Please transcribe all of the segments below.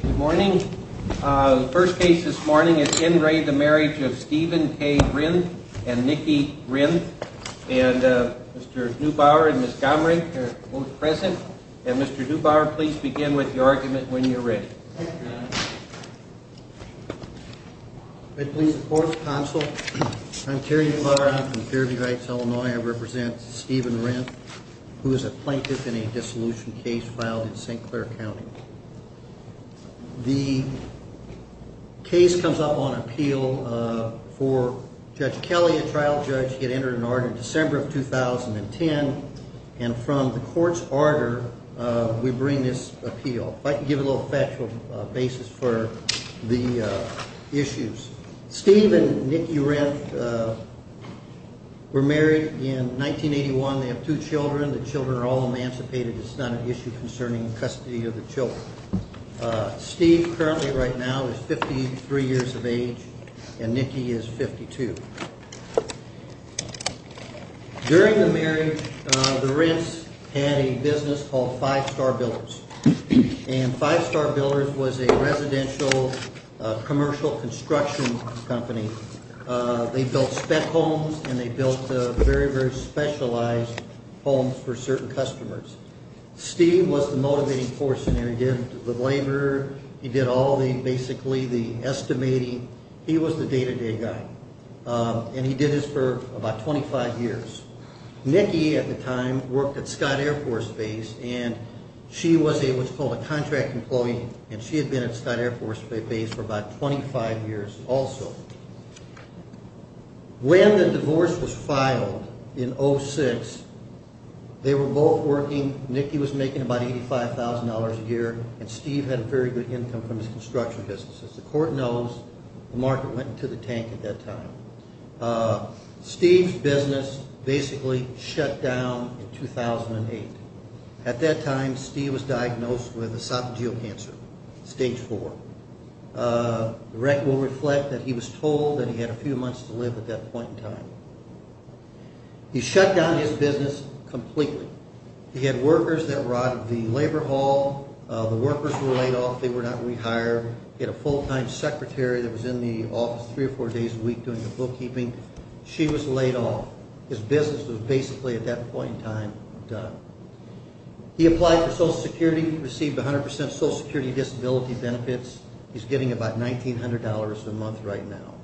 Good morning. The first case this morning is in re the marriage of Stephen K. Renth and Nikki Renth. And Mr. Neubauer and Ms. Gomring are both present. And Mr. Neubauer, please begin with your argument when you're ready. I'm Terry Neubauer. I'm from Fairview Heights, Illinois. I represent Stephen Renth, who is a plaintiff in a dissolution case filed in St. Clair County. The case comes up on appeal for Judge Kelly, a trial judge. He had entered an order in December of 2010. And from the court's order, we bring this appeal. If I can give a little factual basis for the issues. Steve and Nikki Renth were married in 1981. They have two children. The children are all emancipated. It's not an issue concerning custody of the children. Steve currently right now is 53 years of age and Nikki is 52. During the marriage, the Renths had a business called Five Star Builders. And Five Star Builders was a residential commercial construction company. They built spec homes and they built very, very specialized homes for certain customers. Steve was the motivating force in there. He did the labor. He did all the basically the estimating. He was the day-to-day guy. And he did this for about 25 years. Nikki at the time worked at Scott Air Force Base and she was a what's called a contract employee and she had been at Scott Air Force Base for about 25 years also. When the divorce was filed in 06, they were both working. Nikki was making about $85,000 a year and Steve had a very good income from his construction business. As the court knows, the market went into the tank at that time. Steve's business basically shut down in 2008. At that time, Steve was diagnosed with esophageal cancer, stage four. The record will reflect that he was told that he had a few months to live at that point in time. He shut down his business completely. He had workers that were out of the labor hall. The workers were laid off. They were not rehired. He had a full-time secretary that was in the office three or four days a week doing the bookkeeping. She was laid off. His business was basically at that point in time done. He applied for Social Security, received 100% Social Security disability benefits. He's getting about $1,900 a month right now.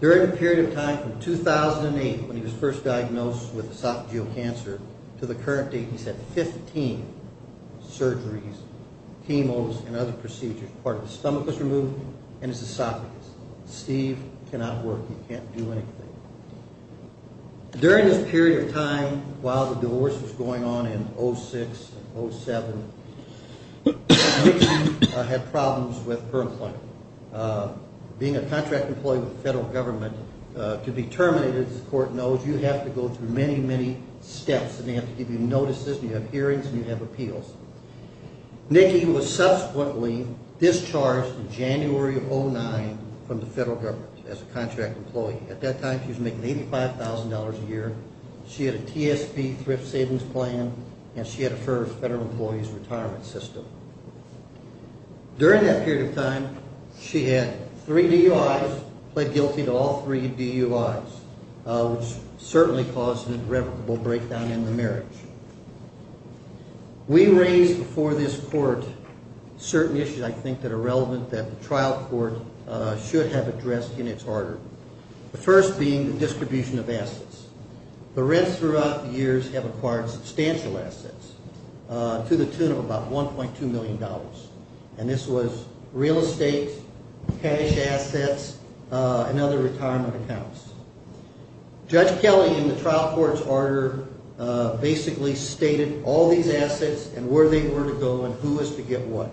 During the period of time from 2008 when he was first diagnosed with esophageal cancer to the current date, he's had 15 surgeries, chemos and other procedures. Part of his stomach was removed and his esophagus. Steve cannot work. He can't do anything. During this period of time while the divorce was going on in 2006 and 2007, Nikki had problems with her employment. Being a contract employee with the federal government, to be terminated, as the court knows, you have to go through many, many steps. They have to give you notices and you have hearings and you have appeals. Nikki was subsequently discharged in January of 2009 from the federal government as a contract employee. At that time she was making $85,000 a year. She had a TSP thrift savings plan and she had her federal employee's retirement system. During that period of time, she had three DUIs, pled guilty to all three DUIs, which certainly caused a irrevocable breakdown in the marriage. We raised before this court certain issues I think that are relevant that the trial court should have addressed in its order. The first being the distribution of assets. The rents throughout the years have acquired substantial assets to the tune of about $1.2 million. And this was real estate, cash assets, and other retirement accounts. Judge Kelly in the trial court's order basically stated all these assets and where they were to go and who was to get what.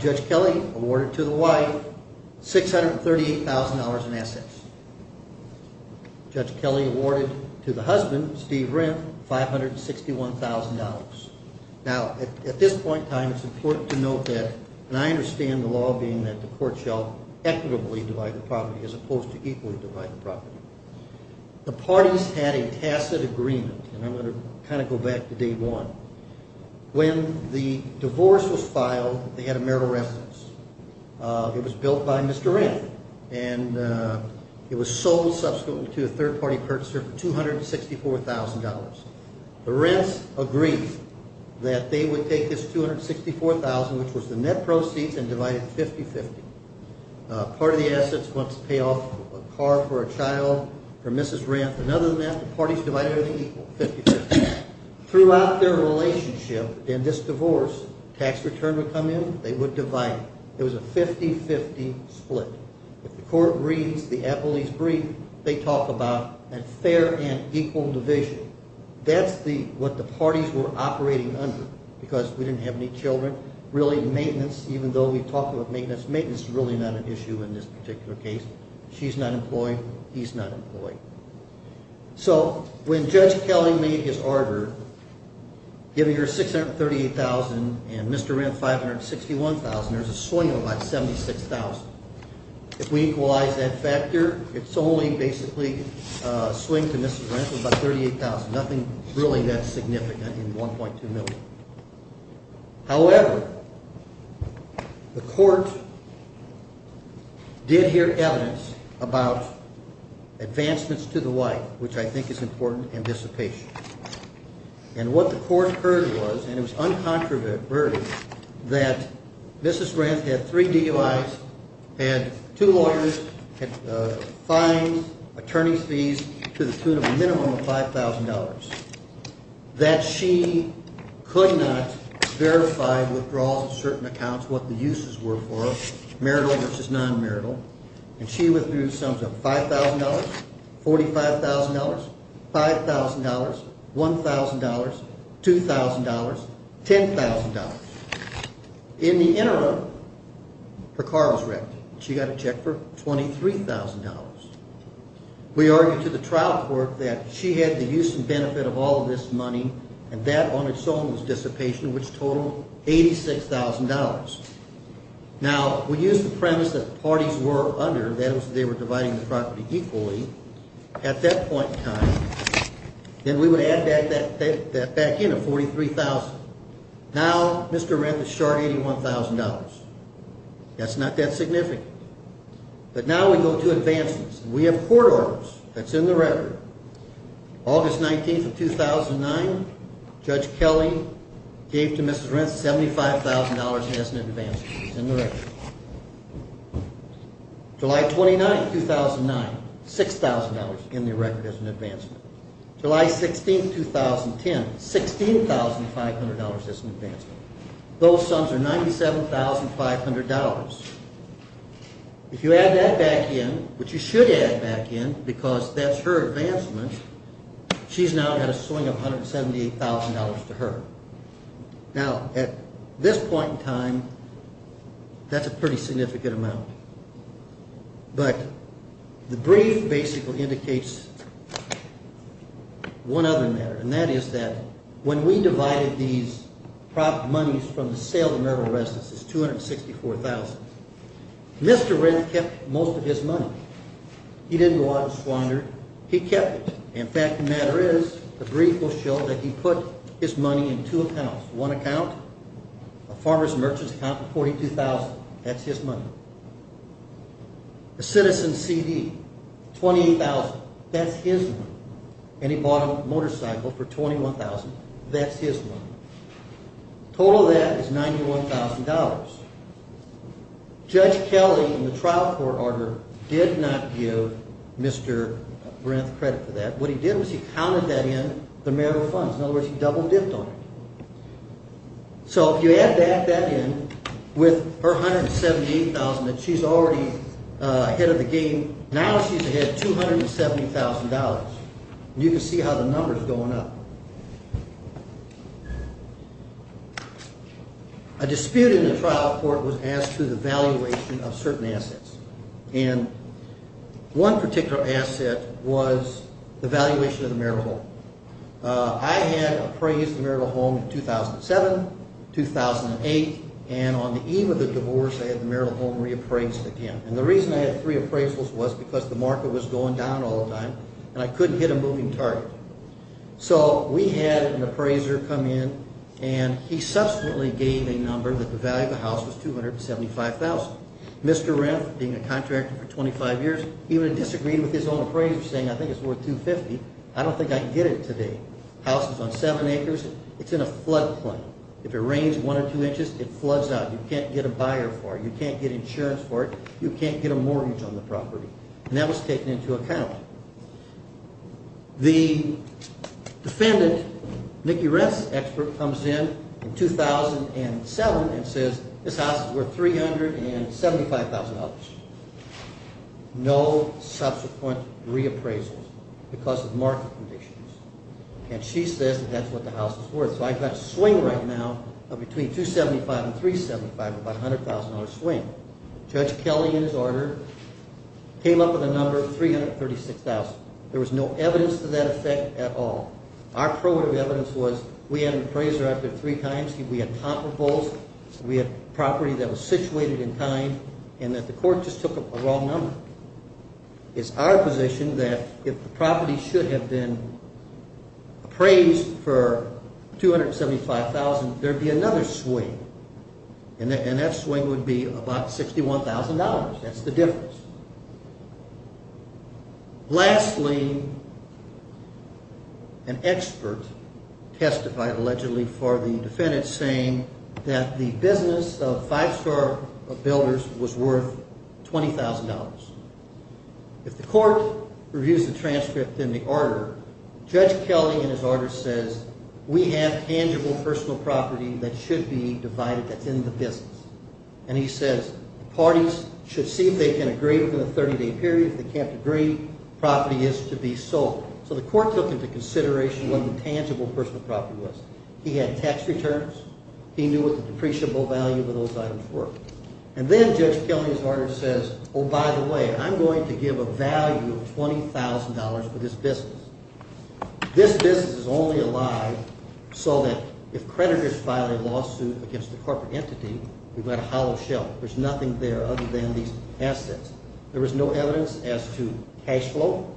Judge Kelly awarded to the wife $638,000 in assets. Judge Kelly awarded to the husband, Steve Renth, $561,000. Now at this point in time it's important to note that, and I understand the law being that the court shall equitably divide the property as opposed to equally divide the property. The parties had a tacit agreement, and I'm going to kind of go back to day one. When the divorce was filed, they had a marital residence. It was built by Mr. Renth and it was sold subsequently to a third-party purchaser for $264,000. The Renths agreed that they would take this $264,000, which was the net proceeds, and divide it 50-50. Part of the assets was to pay off a car for a child for Mrs. Renth, and other than that the parties divided it equally 50-50. Throughout their relationship in this divorce, tax return would come in, they would divide it. It was a 50-50 split. If the court reads the appellee's brief, they talk about a fair and equal division. That's what the parties were operating under because we didn't have any children. Even though we talked about maintenance, maintenance is really not an issue in this particular case. She's not employed, he's not employed. So when Judge Kelly made his order, giving her $638,000 and Mr. Renth $561,000, there's a swing of about $76,000. If we equalize that factor, it's only basically a swing to Mrs. Renth of about $38,000. Nothing really that significant in $1.2 million. However, the court did hear evidence about advancements to the wife, which I think is important, and dissipation. And what the court heard was, and it was uncontroverted, that Mrs. Renth had three DUIs, had two lawyers, had fines, attorney's fees to the tune of a minimum of $5,000. That she could not verify withdrawals of certain accounts, what the uses were for her, marital versus non-marital. And she withdrew sums of $5,000, $45,000, $5,000, $1,000, $2,000, $10,000. In the interim, her car was wrecked. She got a check for $23,000. We argued to the trial court that she had the use and benefit of all of this money, and that on its own was dissipation, which totaled $86,000. Now, we used the premise that parties were under, that is, they were dividing the property equally. At that point in time, then we would add that back in at $43,000. Now, Mr. Renth is short $81,000. That's not that significant. But now we go to advancements. We have court orders that's in the record. August 19th of 2009, Judge Kelly gave to Mrs. Renth $75,000 as an advancement. It's in the record. July 29th, 2009, $6,000 in the record as an advancement. July 16th, 2010, $16,500 as an advancement. Those sums are $97,500. If you add that back in, which you should add back in because that's her advancement, she's now got a swing of $178,000 to her. Now, at this point in time, that's a pretty significant amount. But the brief basically indicates one other matter, and that is that when we divided these properties, monies from the sale of Merrill Residences, $264,000, Mr. Renth kept most of his money. He didn't go out and squander it. He kept it. In fact, the matter is, the brief will show that he put his money in two accounts. One account, a farmer's and merchant's account, $42,000. That's his money. A citizen's CD, $28,000. That's his money. And he bought a motorcycle for $21,000. That's his money. Total of that is $91,000. Judge Kelly, in the trial court order, did not give Mr. Renth credit for that. What he did was he counted that in the Merrill funds. In other words, he double dipped on it. So if you add back that in with her $178,000, she's already ahead of the game. Now she's ahead $270,000. You can see how the number's going up. A dispute in the trial court was as to the valuation of certain assets. And one particular asset was the valuation of the Merrill home. I had appraised the Merrill home in 2007, 2008. And on the eve of the divorce, I had the Merrill home reappraised again. And the reason I had three appraisals was because the market was going down all the time and I couldn't hit a moving target. So we had an appraiser come in and he subsequently gave a number that the value of the house was $275,000. Mr. Renth, being a contractor for 25 years, he would have disagreed with his own appraiser saying, I think it's worth $250,000. I don't think I can get it today. The house is on seven acres. It's in a flood plain. If it rains one or two inches, it floods out. You can't get a buyer for it. You can't get insurance for it. You can't get a mortgage on the property. And that was taken into account. The defendant, Nikki Renth's expert, comes in in 2007 and says this house is worth $375,000. No subsequent reappraisals because of market conditions. And she says that's what the house is worth. So I've got a swing right now of between $275,000 and $375,000, about a $100,000 swing. Judge Kelly, in his order, came up with a number of $336,000. There was no evidence to that effect at all. Our evidence was we had an appraiser up there three times. We had comparables. We had property that was situated in time and that the court just took a wrong number. It's our position that if the property should have been appraised for $275,000, there would be another swing. And that swing would be about $61,000. That's the difference. Lastly, an expert testified allegedly for the defendant saying that the business of Five Star Builders was worth $20,000. If the court reviews the transcript in the order, Judge Kelly, in his order, says we have tangible personal property that should be divided that's in the business. And he says parties should see if they can agree within a 30-day period. If they can't agree, property is to be sold. So the court took into consideration what the tangible personal property was. He had tax returns. He knew what the depreciable value of those items were. And then Judge Kelly, in his order, says, oh, by the way, I'm going to give a value of $20,000 for this business. This business is only alive so that if creditors file a lawsuit against a corporate entity, we've got a hollow shell. There's nothing there other than these assets. There was no evidence as to cash flow,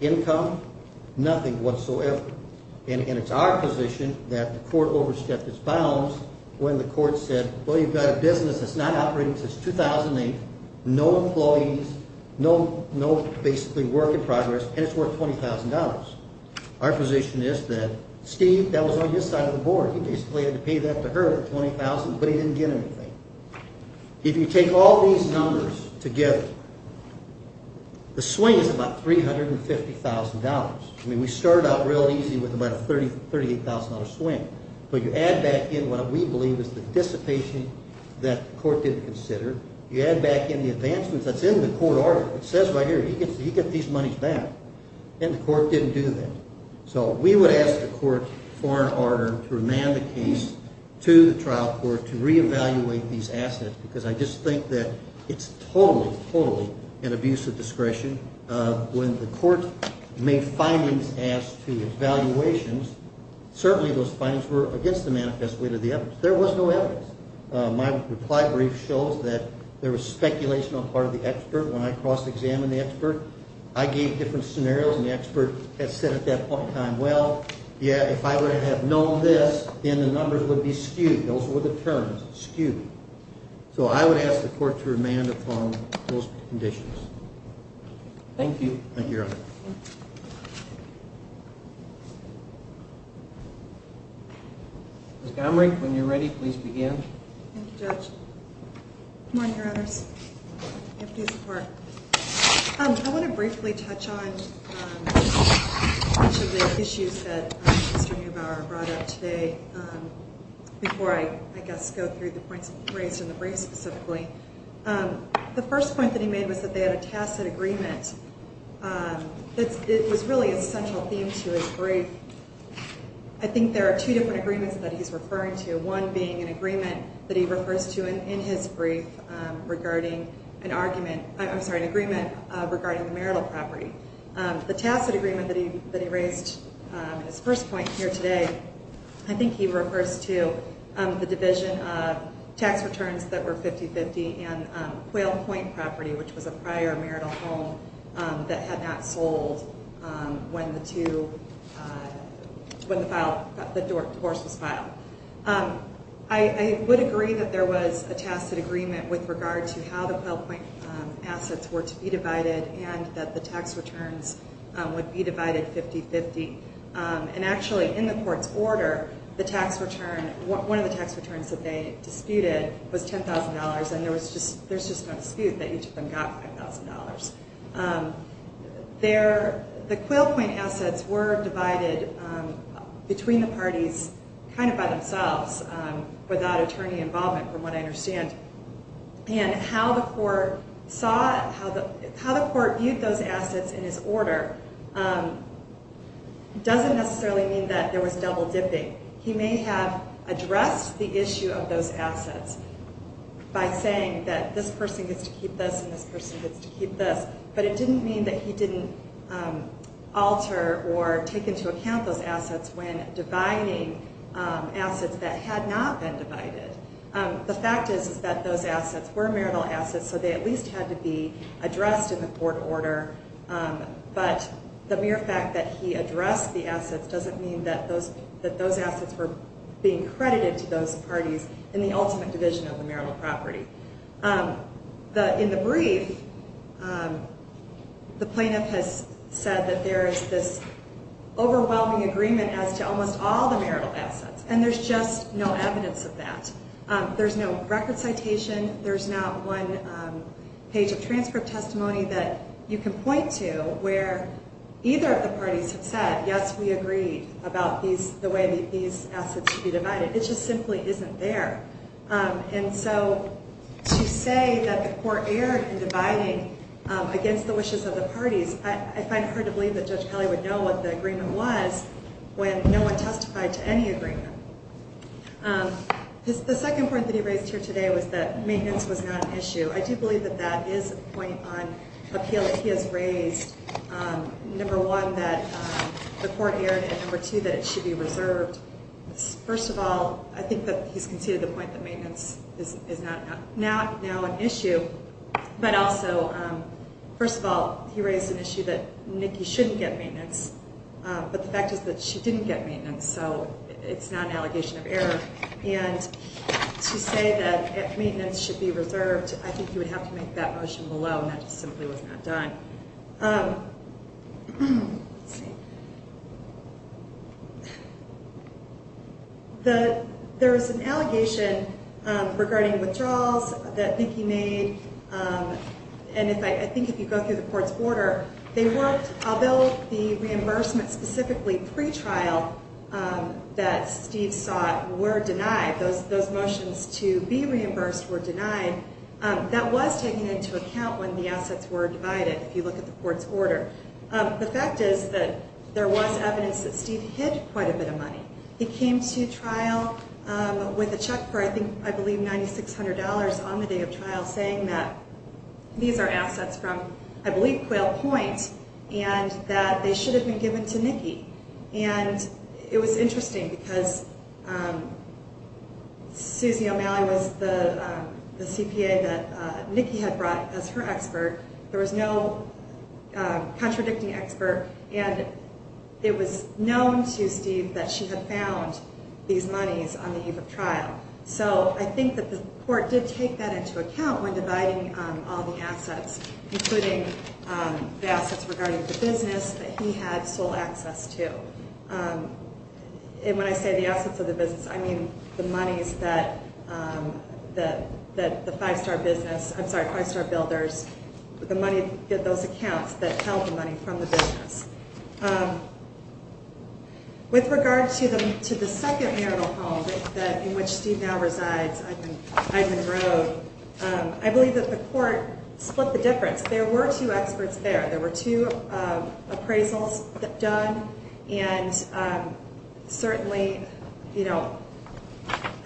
income, nothing whatsoever. And it's our position that the court overstepped its bounds when the court said, well, you've got a business that's not operating since 2008, no employees, no basically work in progress, and it's worth $20,000. Our position is that Steve, that was on his side of the board. He basically had to pay that to her, $20,000, but he didn't get anything. If you take all these numbers together, the swing is about $350,000. I mean, we started out real easy with about a $38,000 swing. But you add back in what we believe is the dissipation that the court didn't consider. You add back in the advancements that's in the court order. It says right here, he gets these monies back. And the court didn't do that. So we would ask the court for an order to remand the case to the trial court to reevaluate these assets because I just think that it's totally, totally an abuse of discretion. When the court made findings as to evaluations, certainly those findings were against the manifest weight of the evidence. There was no evidence. My reply brief shows that there was speculation on the part of the expert when I cross-examined the expert. I gave different scenarios, and the expert had said at that point in time, well, yeah, if I would have known this, then the numbers would be skewed. Those were the terms, skewed. So I would ask the court to remand upon those conditions. Thank you. Thank you, Your Honor. Ms. Gomery, when you're ready, please begin. Thank you, Judge. Good morning, Your Honors. I want to briefly touch on each of the issues that Mr. Neubauer brought up today before I, I guess, go through the points raised in the brief specifically. The first point that he made was that they had a tacit agreement that was really a central theme to his brief. I think there are two different agreements that he's referring to, one being an agreement that he refers to in his brief regarding an argument, I'm sorry, an agreement regarding the marital property. The tacit agreement that he raised, his first point here today, I think he refers to the division of tax returns that were 50-50 and quail point property, which was a prior marital home that had not sold when the two, when the divorce was filed. I would agree that there was a tacit agreement with regard to how the quail point assets were to be divided and that the tax returns would be divided 50-50. And actually in the court's order, the tax return, one of the tax returns that they disputed was $10,000 and there was just, there's just no dispute that each of them got $5,000. There, the quail point assets were divided between the parties kind of by themselves without attorney involvement from what I understand. And how the court saw, how the court viewed those assets in his order doesn't necessarily mean that there was double dipping. He may have addressed the issue of those assets by saying that this person gets to keep this and this person gets to keep this, but it didn't mean that he didn't alter or take into account those assets when dividing assets that had not been divided. The fact is, is that those assets were marital assets, so they at least had to be addressed in the court order. But the mere fact that he addressed the assets doesn't mean that those, that those assets were being credited to those parties in the ultimate division of the marital property. In the brief, the plaintiff has said that there is this overwhelming agreement as to almost all the marital assets, and there's just no evidence of that. There's no record citation. There's not one page of transcript testimony that you can point to where either of the parties have said, yes, we agreed about these, the way that these assets would be divided. It just simply isn't there. And so to say that the court erred in dividing against the wishes of the parties, I find it hard to believe that Judge Kelly would know what the agreement was when no one testified to any agreement. The second point that he raised here today was that maintenance was not an issue. I do believe that that is a point on appeal that he has raised. Number one, that the court erred, and number two, that it should be reserved. First of all, I think that he's conceded the point that maintenance is not now an issue. But also, first of all, he raised an issue that Nikki shouldn't get maintenance, but the fact is that she didn't get maintenance, so it's not an allegation of error. And to say that maintenance should be reserved, I think you would have to make that motion below, and that just simply was not done. There was an allegation regarding withdrawals that Nikki made, and I think if you go through the court's order, although the reimbursement specifically pre-trial that Steve sought were denied, those motions to be reimbursed were denied, that was taken into account when the assets were divided. The fact is that there was evidence that Steve hid quite a bit of money. He came to trial with a check for, I believe, $9,600 on the day of trial, saying that these are assets from, I believe, Quail Point, and that they should have been given to Nikki. And it was interesting because Susie O'Malley was the CPA that Nikki had brought as her expert. There was no contradicting expert, and it was known to Steve that she had found these monies on the eve of trial. So I think that the court did take that into account when dividing all the assets, including the assets regarding the business that he had sole access to. And when I say the assets of the business, I mean the monies that the five-star business, I'm sorry, five-star builders, the money, those accounts that held the money from the business. With regard to the second marital home in which Steve now resides, Ivan Grove, I believe that the court split the difference. There were two experts there. There were two appraisals done, and certainly, you know,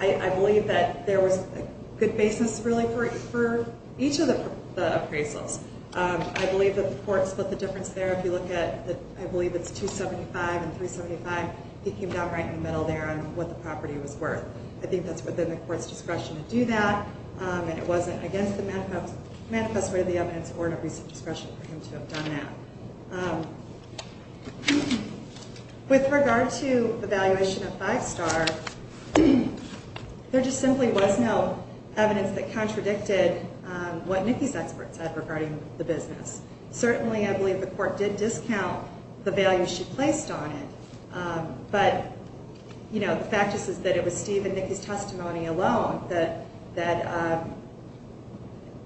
I believe that there was a good basis really for each of the appraisals. I believe that the court split the difference there. If you look at, I believe it's 275 and 375, he came down right in the middle there on what the property was worth. I think that's within the court's discretion to do that, and it wasn't against the manifest way of the evidence or in a recent discretion for him to have done that. With regard to the valuation of five-star, there just simply was no evidence that contradicted what Nikki's expert said regarding the business. Certainly, I believe the court did discount the value she placed on it. But, you know, the fact is that it was Steve and Nikki's testimony alone that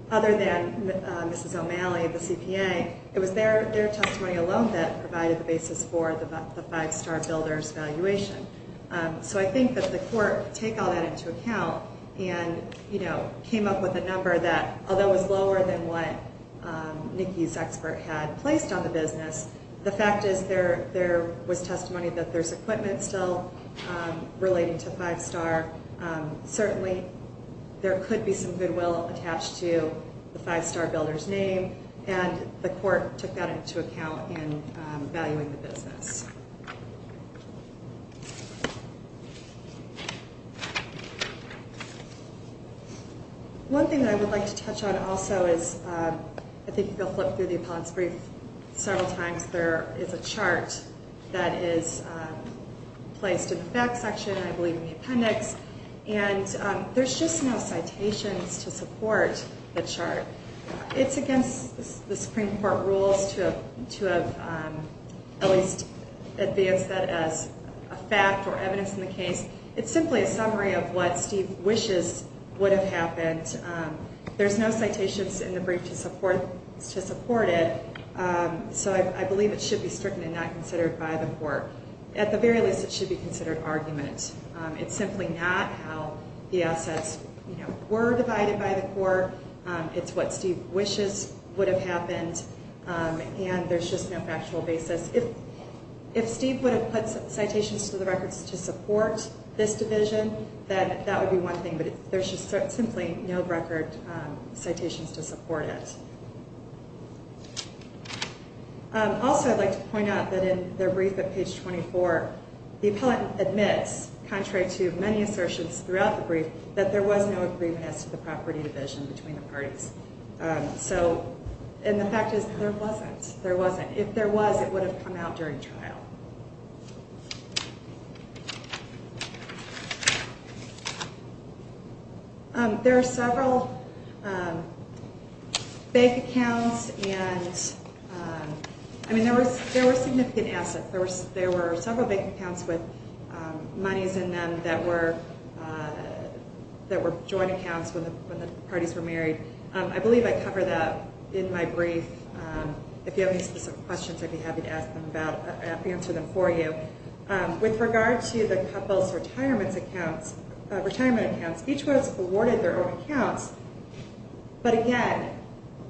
other than Mrs. O'Malley of the CPA, it was their testimony alone that provided the basis for the five-star builder's valuation. So I think that the court took all that into account and, you know, came up with a number that, although it was lower than what Nikki's expert had placed on the business, the fact is there was testimony that there's equipment still relating to five-star. Certainly, there could be some goodwill attached to the five-star builder's name, and the court took that into account in valuing the business. One thing I would like to touch on also is, I think if you'll flip through the appellate's brief several times, there is a chart that is placed in the back section, I believe in the appendix, and there's just no citations to support the chart. It's against the Supreme Court rules to at least advance that as a fact or evidence in the case. It's simply a summary of what Steve wishes would have happened. There's no citations in the brief to support it, so I believe it should be stricken and not considered by the court. At the very least, it should be considered argument. It's simply not how the assets were divided by the court. It's what Steve wishes would have happened, and there's just no factual basis. If Steve would have put citations to the records to support this division, then that would be one thing, but there's just simply no record citations to support it. Also, I'd like to point out that in their brief at page 24, the appellate admits, contrary to many assertions throughout the brief, that there was no agreement as to the property division between the parties. The fact is, there wasn't. If there was, it would have come out during trial. There are several bank accounts, and there were significant assets. There were several bank accounts with monies in them that were joint accounts when the parties were married. I believe I covered that in my brief. If you have any specific questions, I'd be happy to answer them for you. With regard to the couple's retirement accounts, each was awarded their own accounts, but again,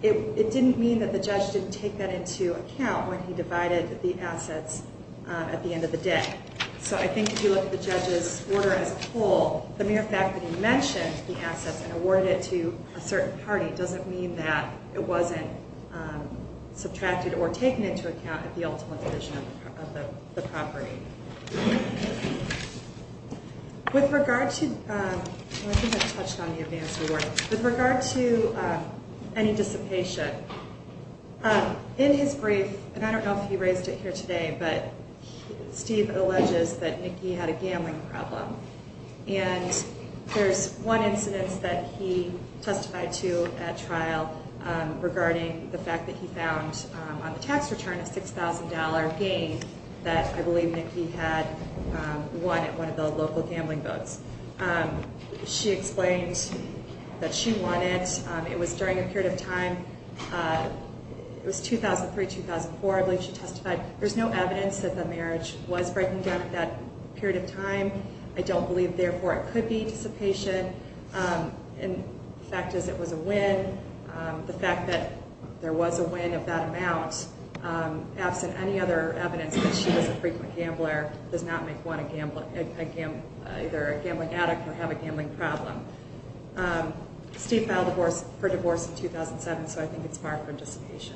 it didn't mean that the judge didn't take that into account when he divided the assets at the end of the day. So I think if you look at the judge's order as a whole, the mere fact that he mentioned the assets and awarded it to a certain party doesn't mean that it wasn't subtracted or taken into account at the ultimate division of the property. With regard to any dissipation, in his brief, and I don't know if he raised it here today, but Steve alleges that Nicky had a gambling problem. And there's one incident that he testified to at trial regarding the fact that he found on the tax return a $6,000 gain that I believe Nicky had won at one of the local gambling booths. She explained that she won it. It was during a period of time. It was 2003-2004, I believe she testified. There's no evidence that the marriage was breaking down at that period of time. I don't believe, therefore, it could be dissipation. The fact is it was a win. The fact that there was a win of that amount, absent any other evidence that she was a frequent gambler, does not make one either a gambling addict or have a gambling problem. Steve filed for divorce in 2007, so I think it's marked for dissipation.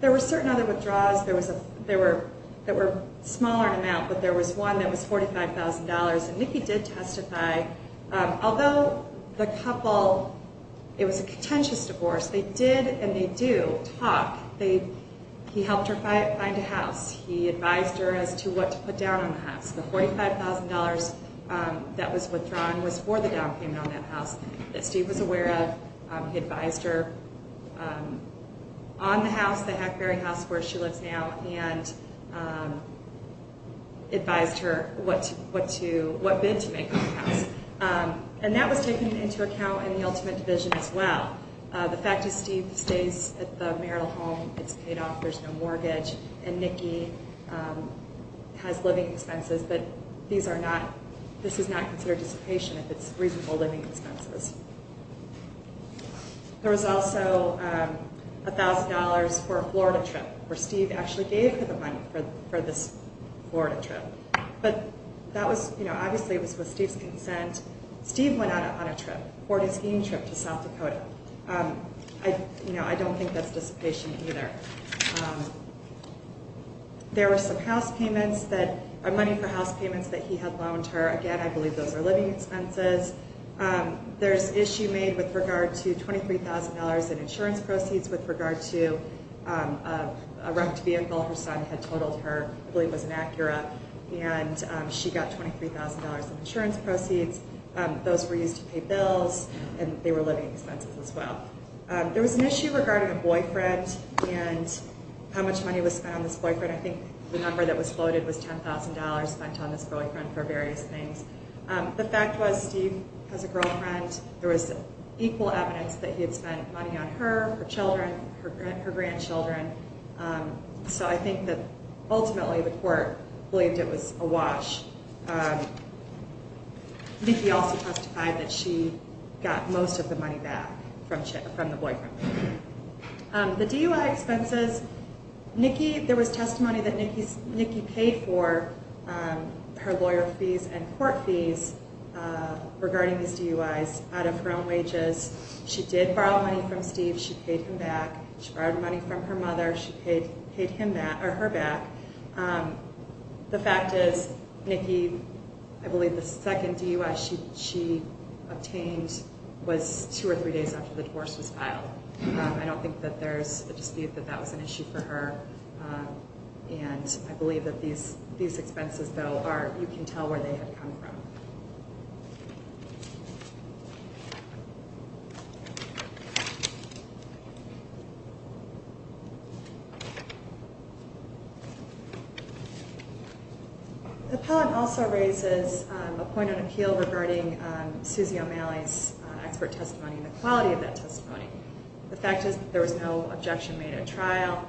There were certain other withdrawals that were smaller in amount, but there was one that was $45,000, and Nicky did testify. Although the couple, it was a contentious divorce, they did, and they do, talk. He helped her find a house. He advised her as to what to put down on the house. The $45,000 that was withdrawn was for the down payment on that house that Steve was aware of. He advised her on the house, the Hackberry house where she lives now, and advised her what bid to make on the house. And that was taken into account in the ultimate division as well. The fact is Steve stays at the Merrill home, it's paid off, there's no mortgage, and Nicky has living expenses, but this is not considered dissipation if it's reasonable living expenses. There was also $1,000 for a Florida trip, where Steve actually gave her the money for this Florida trip. But that was, you know, obviously it was with Steve's consent. Steve went out on a trip, boarded a skiing trip to South Dakota. I don't think that's dissipation either. There were some house payments, money for house payments that he had loaned her. Again, I believe those are living expenses. There's issue made with regard to $23,000 in insurance proceeds with regard to a wrecked vehicle her son had totaled her, I believe it was an Acura, and she got $23,000 in insurance proceeds. Those were used to pay bills, and they were living expenses as well. There was an issue regarding a boyfriend and how much money was spent on this boyfriend. I think the number that was floated was $10,000 spent on this boyfriend for various things. The fact was Steve has a girlfriend. There was equal evidence that he had spent money on her, her children, her grandchildren. So I think that ultimately the court believed it was a wash. Nikki also testified that she got most of the money back from the boyfriend. The DUI expenses, Nikki, there was testimony that Nikki paid for her lawyer fees and court fees regarding these DUIs out of her own wages. She did borrow money from Steve. She paid him back. She borrowed money from her mother. She paid her back. The fact is, Nikki, I believe the second DUI she obtained was two or three days after the divorce was filed. I don't think that there's a dispute that that was an issue for her, and I believe that these expenses, though, you can tell where they had come from. The appellant also raises a point of appeal regarding Susie O'Malley's expert testimony and the quality of that testimony. The fact is that there was no objection made at trial.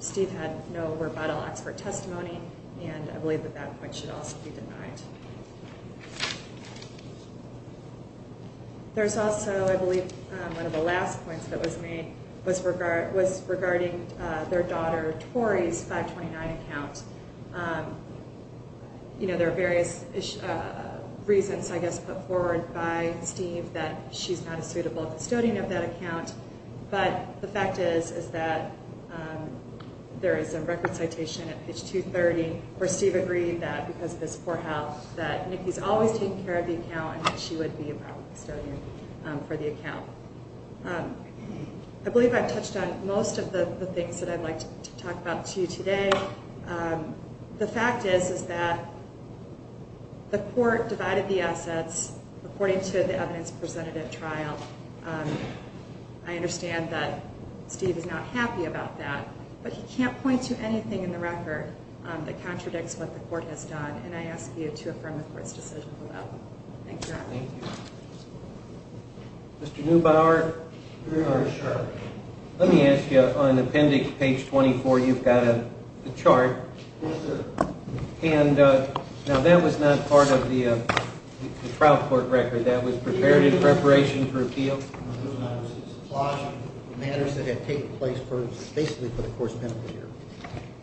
Steve had no rebuttal expert testimony, and I believe that that point should also be denied. There's also, I believe, one of the last points that was made was regarding their daughter Tori's 529 account. You know, there are various reasons, I guess, put forward by Steve that she's not a suitable custodian of that account, but the fact is that there is a record citation at page 230 where Steve agreed that because of his poor health that Nikki's always taking care of the account and that she would be a proper custodian for the account. I believe I've touched on most of the things that I'd like to talk about to you today. The fact is that the court divided the assets according to the evidence presented at trial. I understand that Steve is not happy about that, but he can't point to anything in the record that contradicts what the court has done, and I ask you to affirm the court's decision for that. Thank you. Mr. Neubauer, let me ask you on appendix page 24, you've got a chart, and now that was not part of the trial court record. That was prepared in preparation for appeal. It's a plot of matters that had taken place basically for the court's benefit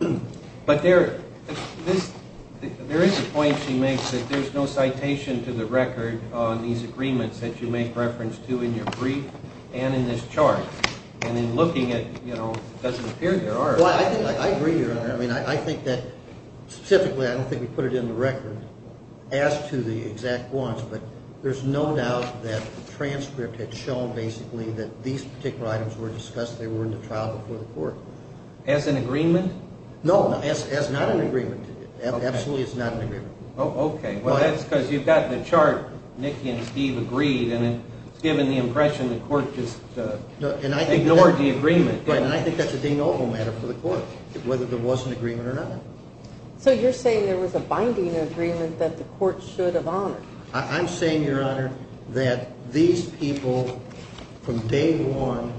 here. But there is a point she makes that there's no citation to the record on these agreements that you make reference to in your brief and in this chart, and in looking at, you know, it doesn't appear there are. Well, I agree, Your Honor. I mean, I think that specifically, I don't think we put it in the record as to the exact wants, but there's no doubt that the transcript had shown basically that these particular items were discussed. They were in the trial before the court. As an agreement? No, as not an agreement. Absolutely, it's not an agreement. Okay. Well, that's because you've got the chart. Nikki and Steve agreed, and it's given the impression the court just ignored the agreement. Right, and I think that's a de novo matter for the court, whether there was an agreement or not. So you're saying there was a binding agreement that the court should have honored? I'm saying, Your Honor, that these people from day one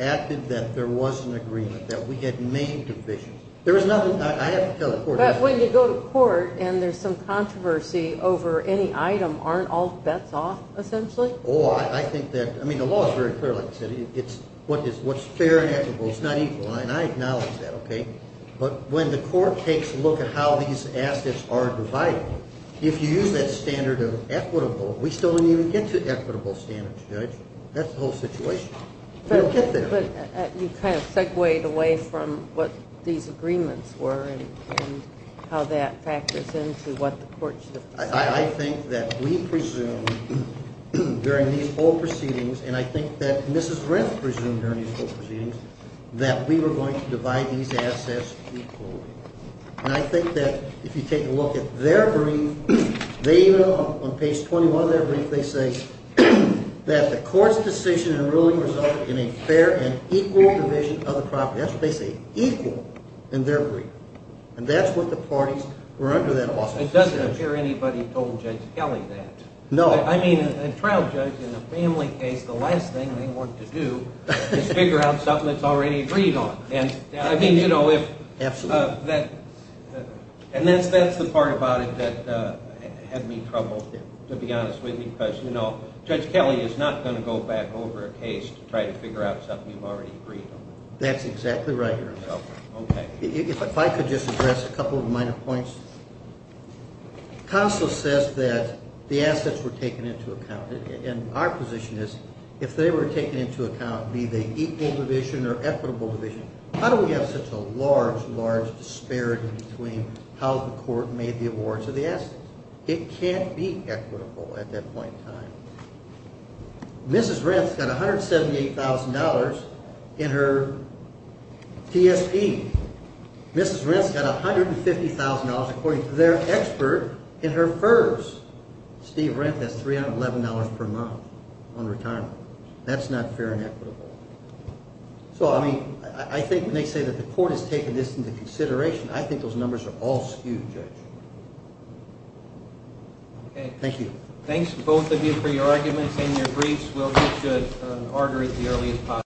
acted that there was an agreement, that we had made divisions. There was nothing I have to tell the court. But when you go to court and there's some controversy over any item, aren't all bets off, essentially? Oh, I think that, I mean, the law is very clear, like I said. It's what's fair and equitable. It's not equal, and I acknowledge that, okay? But when the court takes a look at how these assets are divided, if you use that standard of equitable, we still didn't even get to equitable standards, Judge. That's the whole situation. We don't get there. But you kind of segued away from what these agreements were and how that factors into what the court should have decided. I think that we presumed during these whole proceedings, and I think that Mrs. Renth presumed during these proceedings, that we were going to divide these assets equally. And I think that if you take a look at their brief, they, on page 21 of their brief, they say that the court's decision in ruling resulted in a fair and equal division of the property. That's what they say, equal in their brief. And that's what the parties were under that awesomeness. It doesn't appear anybody told Judge Kelly that. No. I mean, a trial judge in a family case, the last thing they want to do is figure out something that's already agreed on. I mean, you know, if that's the part about it that had me troubled, to be honest with you, because, you know, Judge Kelly is not going to go back over a case to try to figure out something you've already agreed on. That's exactly right, Your Honor. Okay. If I could just address a couple of minor points. Counsel says that the assets were taken into account. And our position is, if they were taken into account, be they equal division or equitable division, how do we have such a large, large disparity between how the court made the awards of the assets? It can't be equitable at that point in time. Mrs. Renth's got $178,000 in her TSP. Mrs. Renth's got $150,000, according to their expert, in her FERS. Steve Renth has $311 per month on retirement. That's not fair and equitable. So, I mean, I think when they say that the court has taken this into consideration, I think those numbers are all skewed, Judge. Okay. Thank you. Thanks, both of you, for your arguments and your briefs. We'll get to an order as early as possible.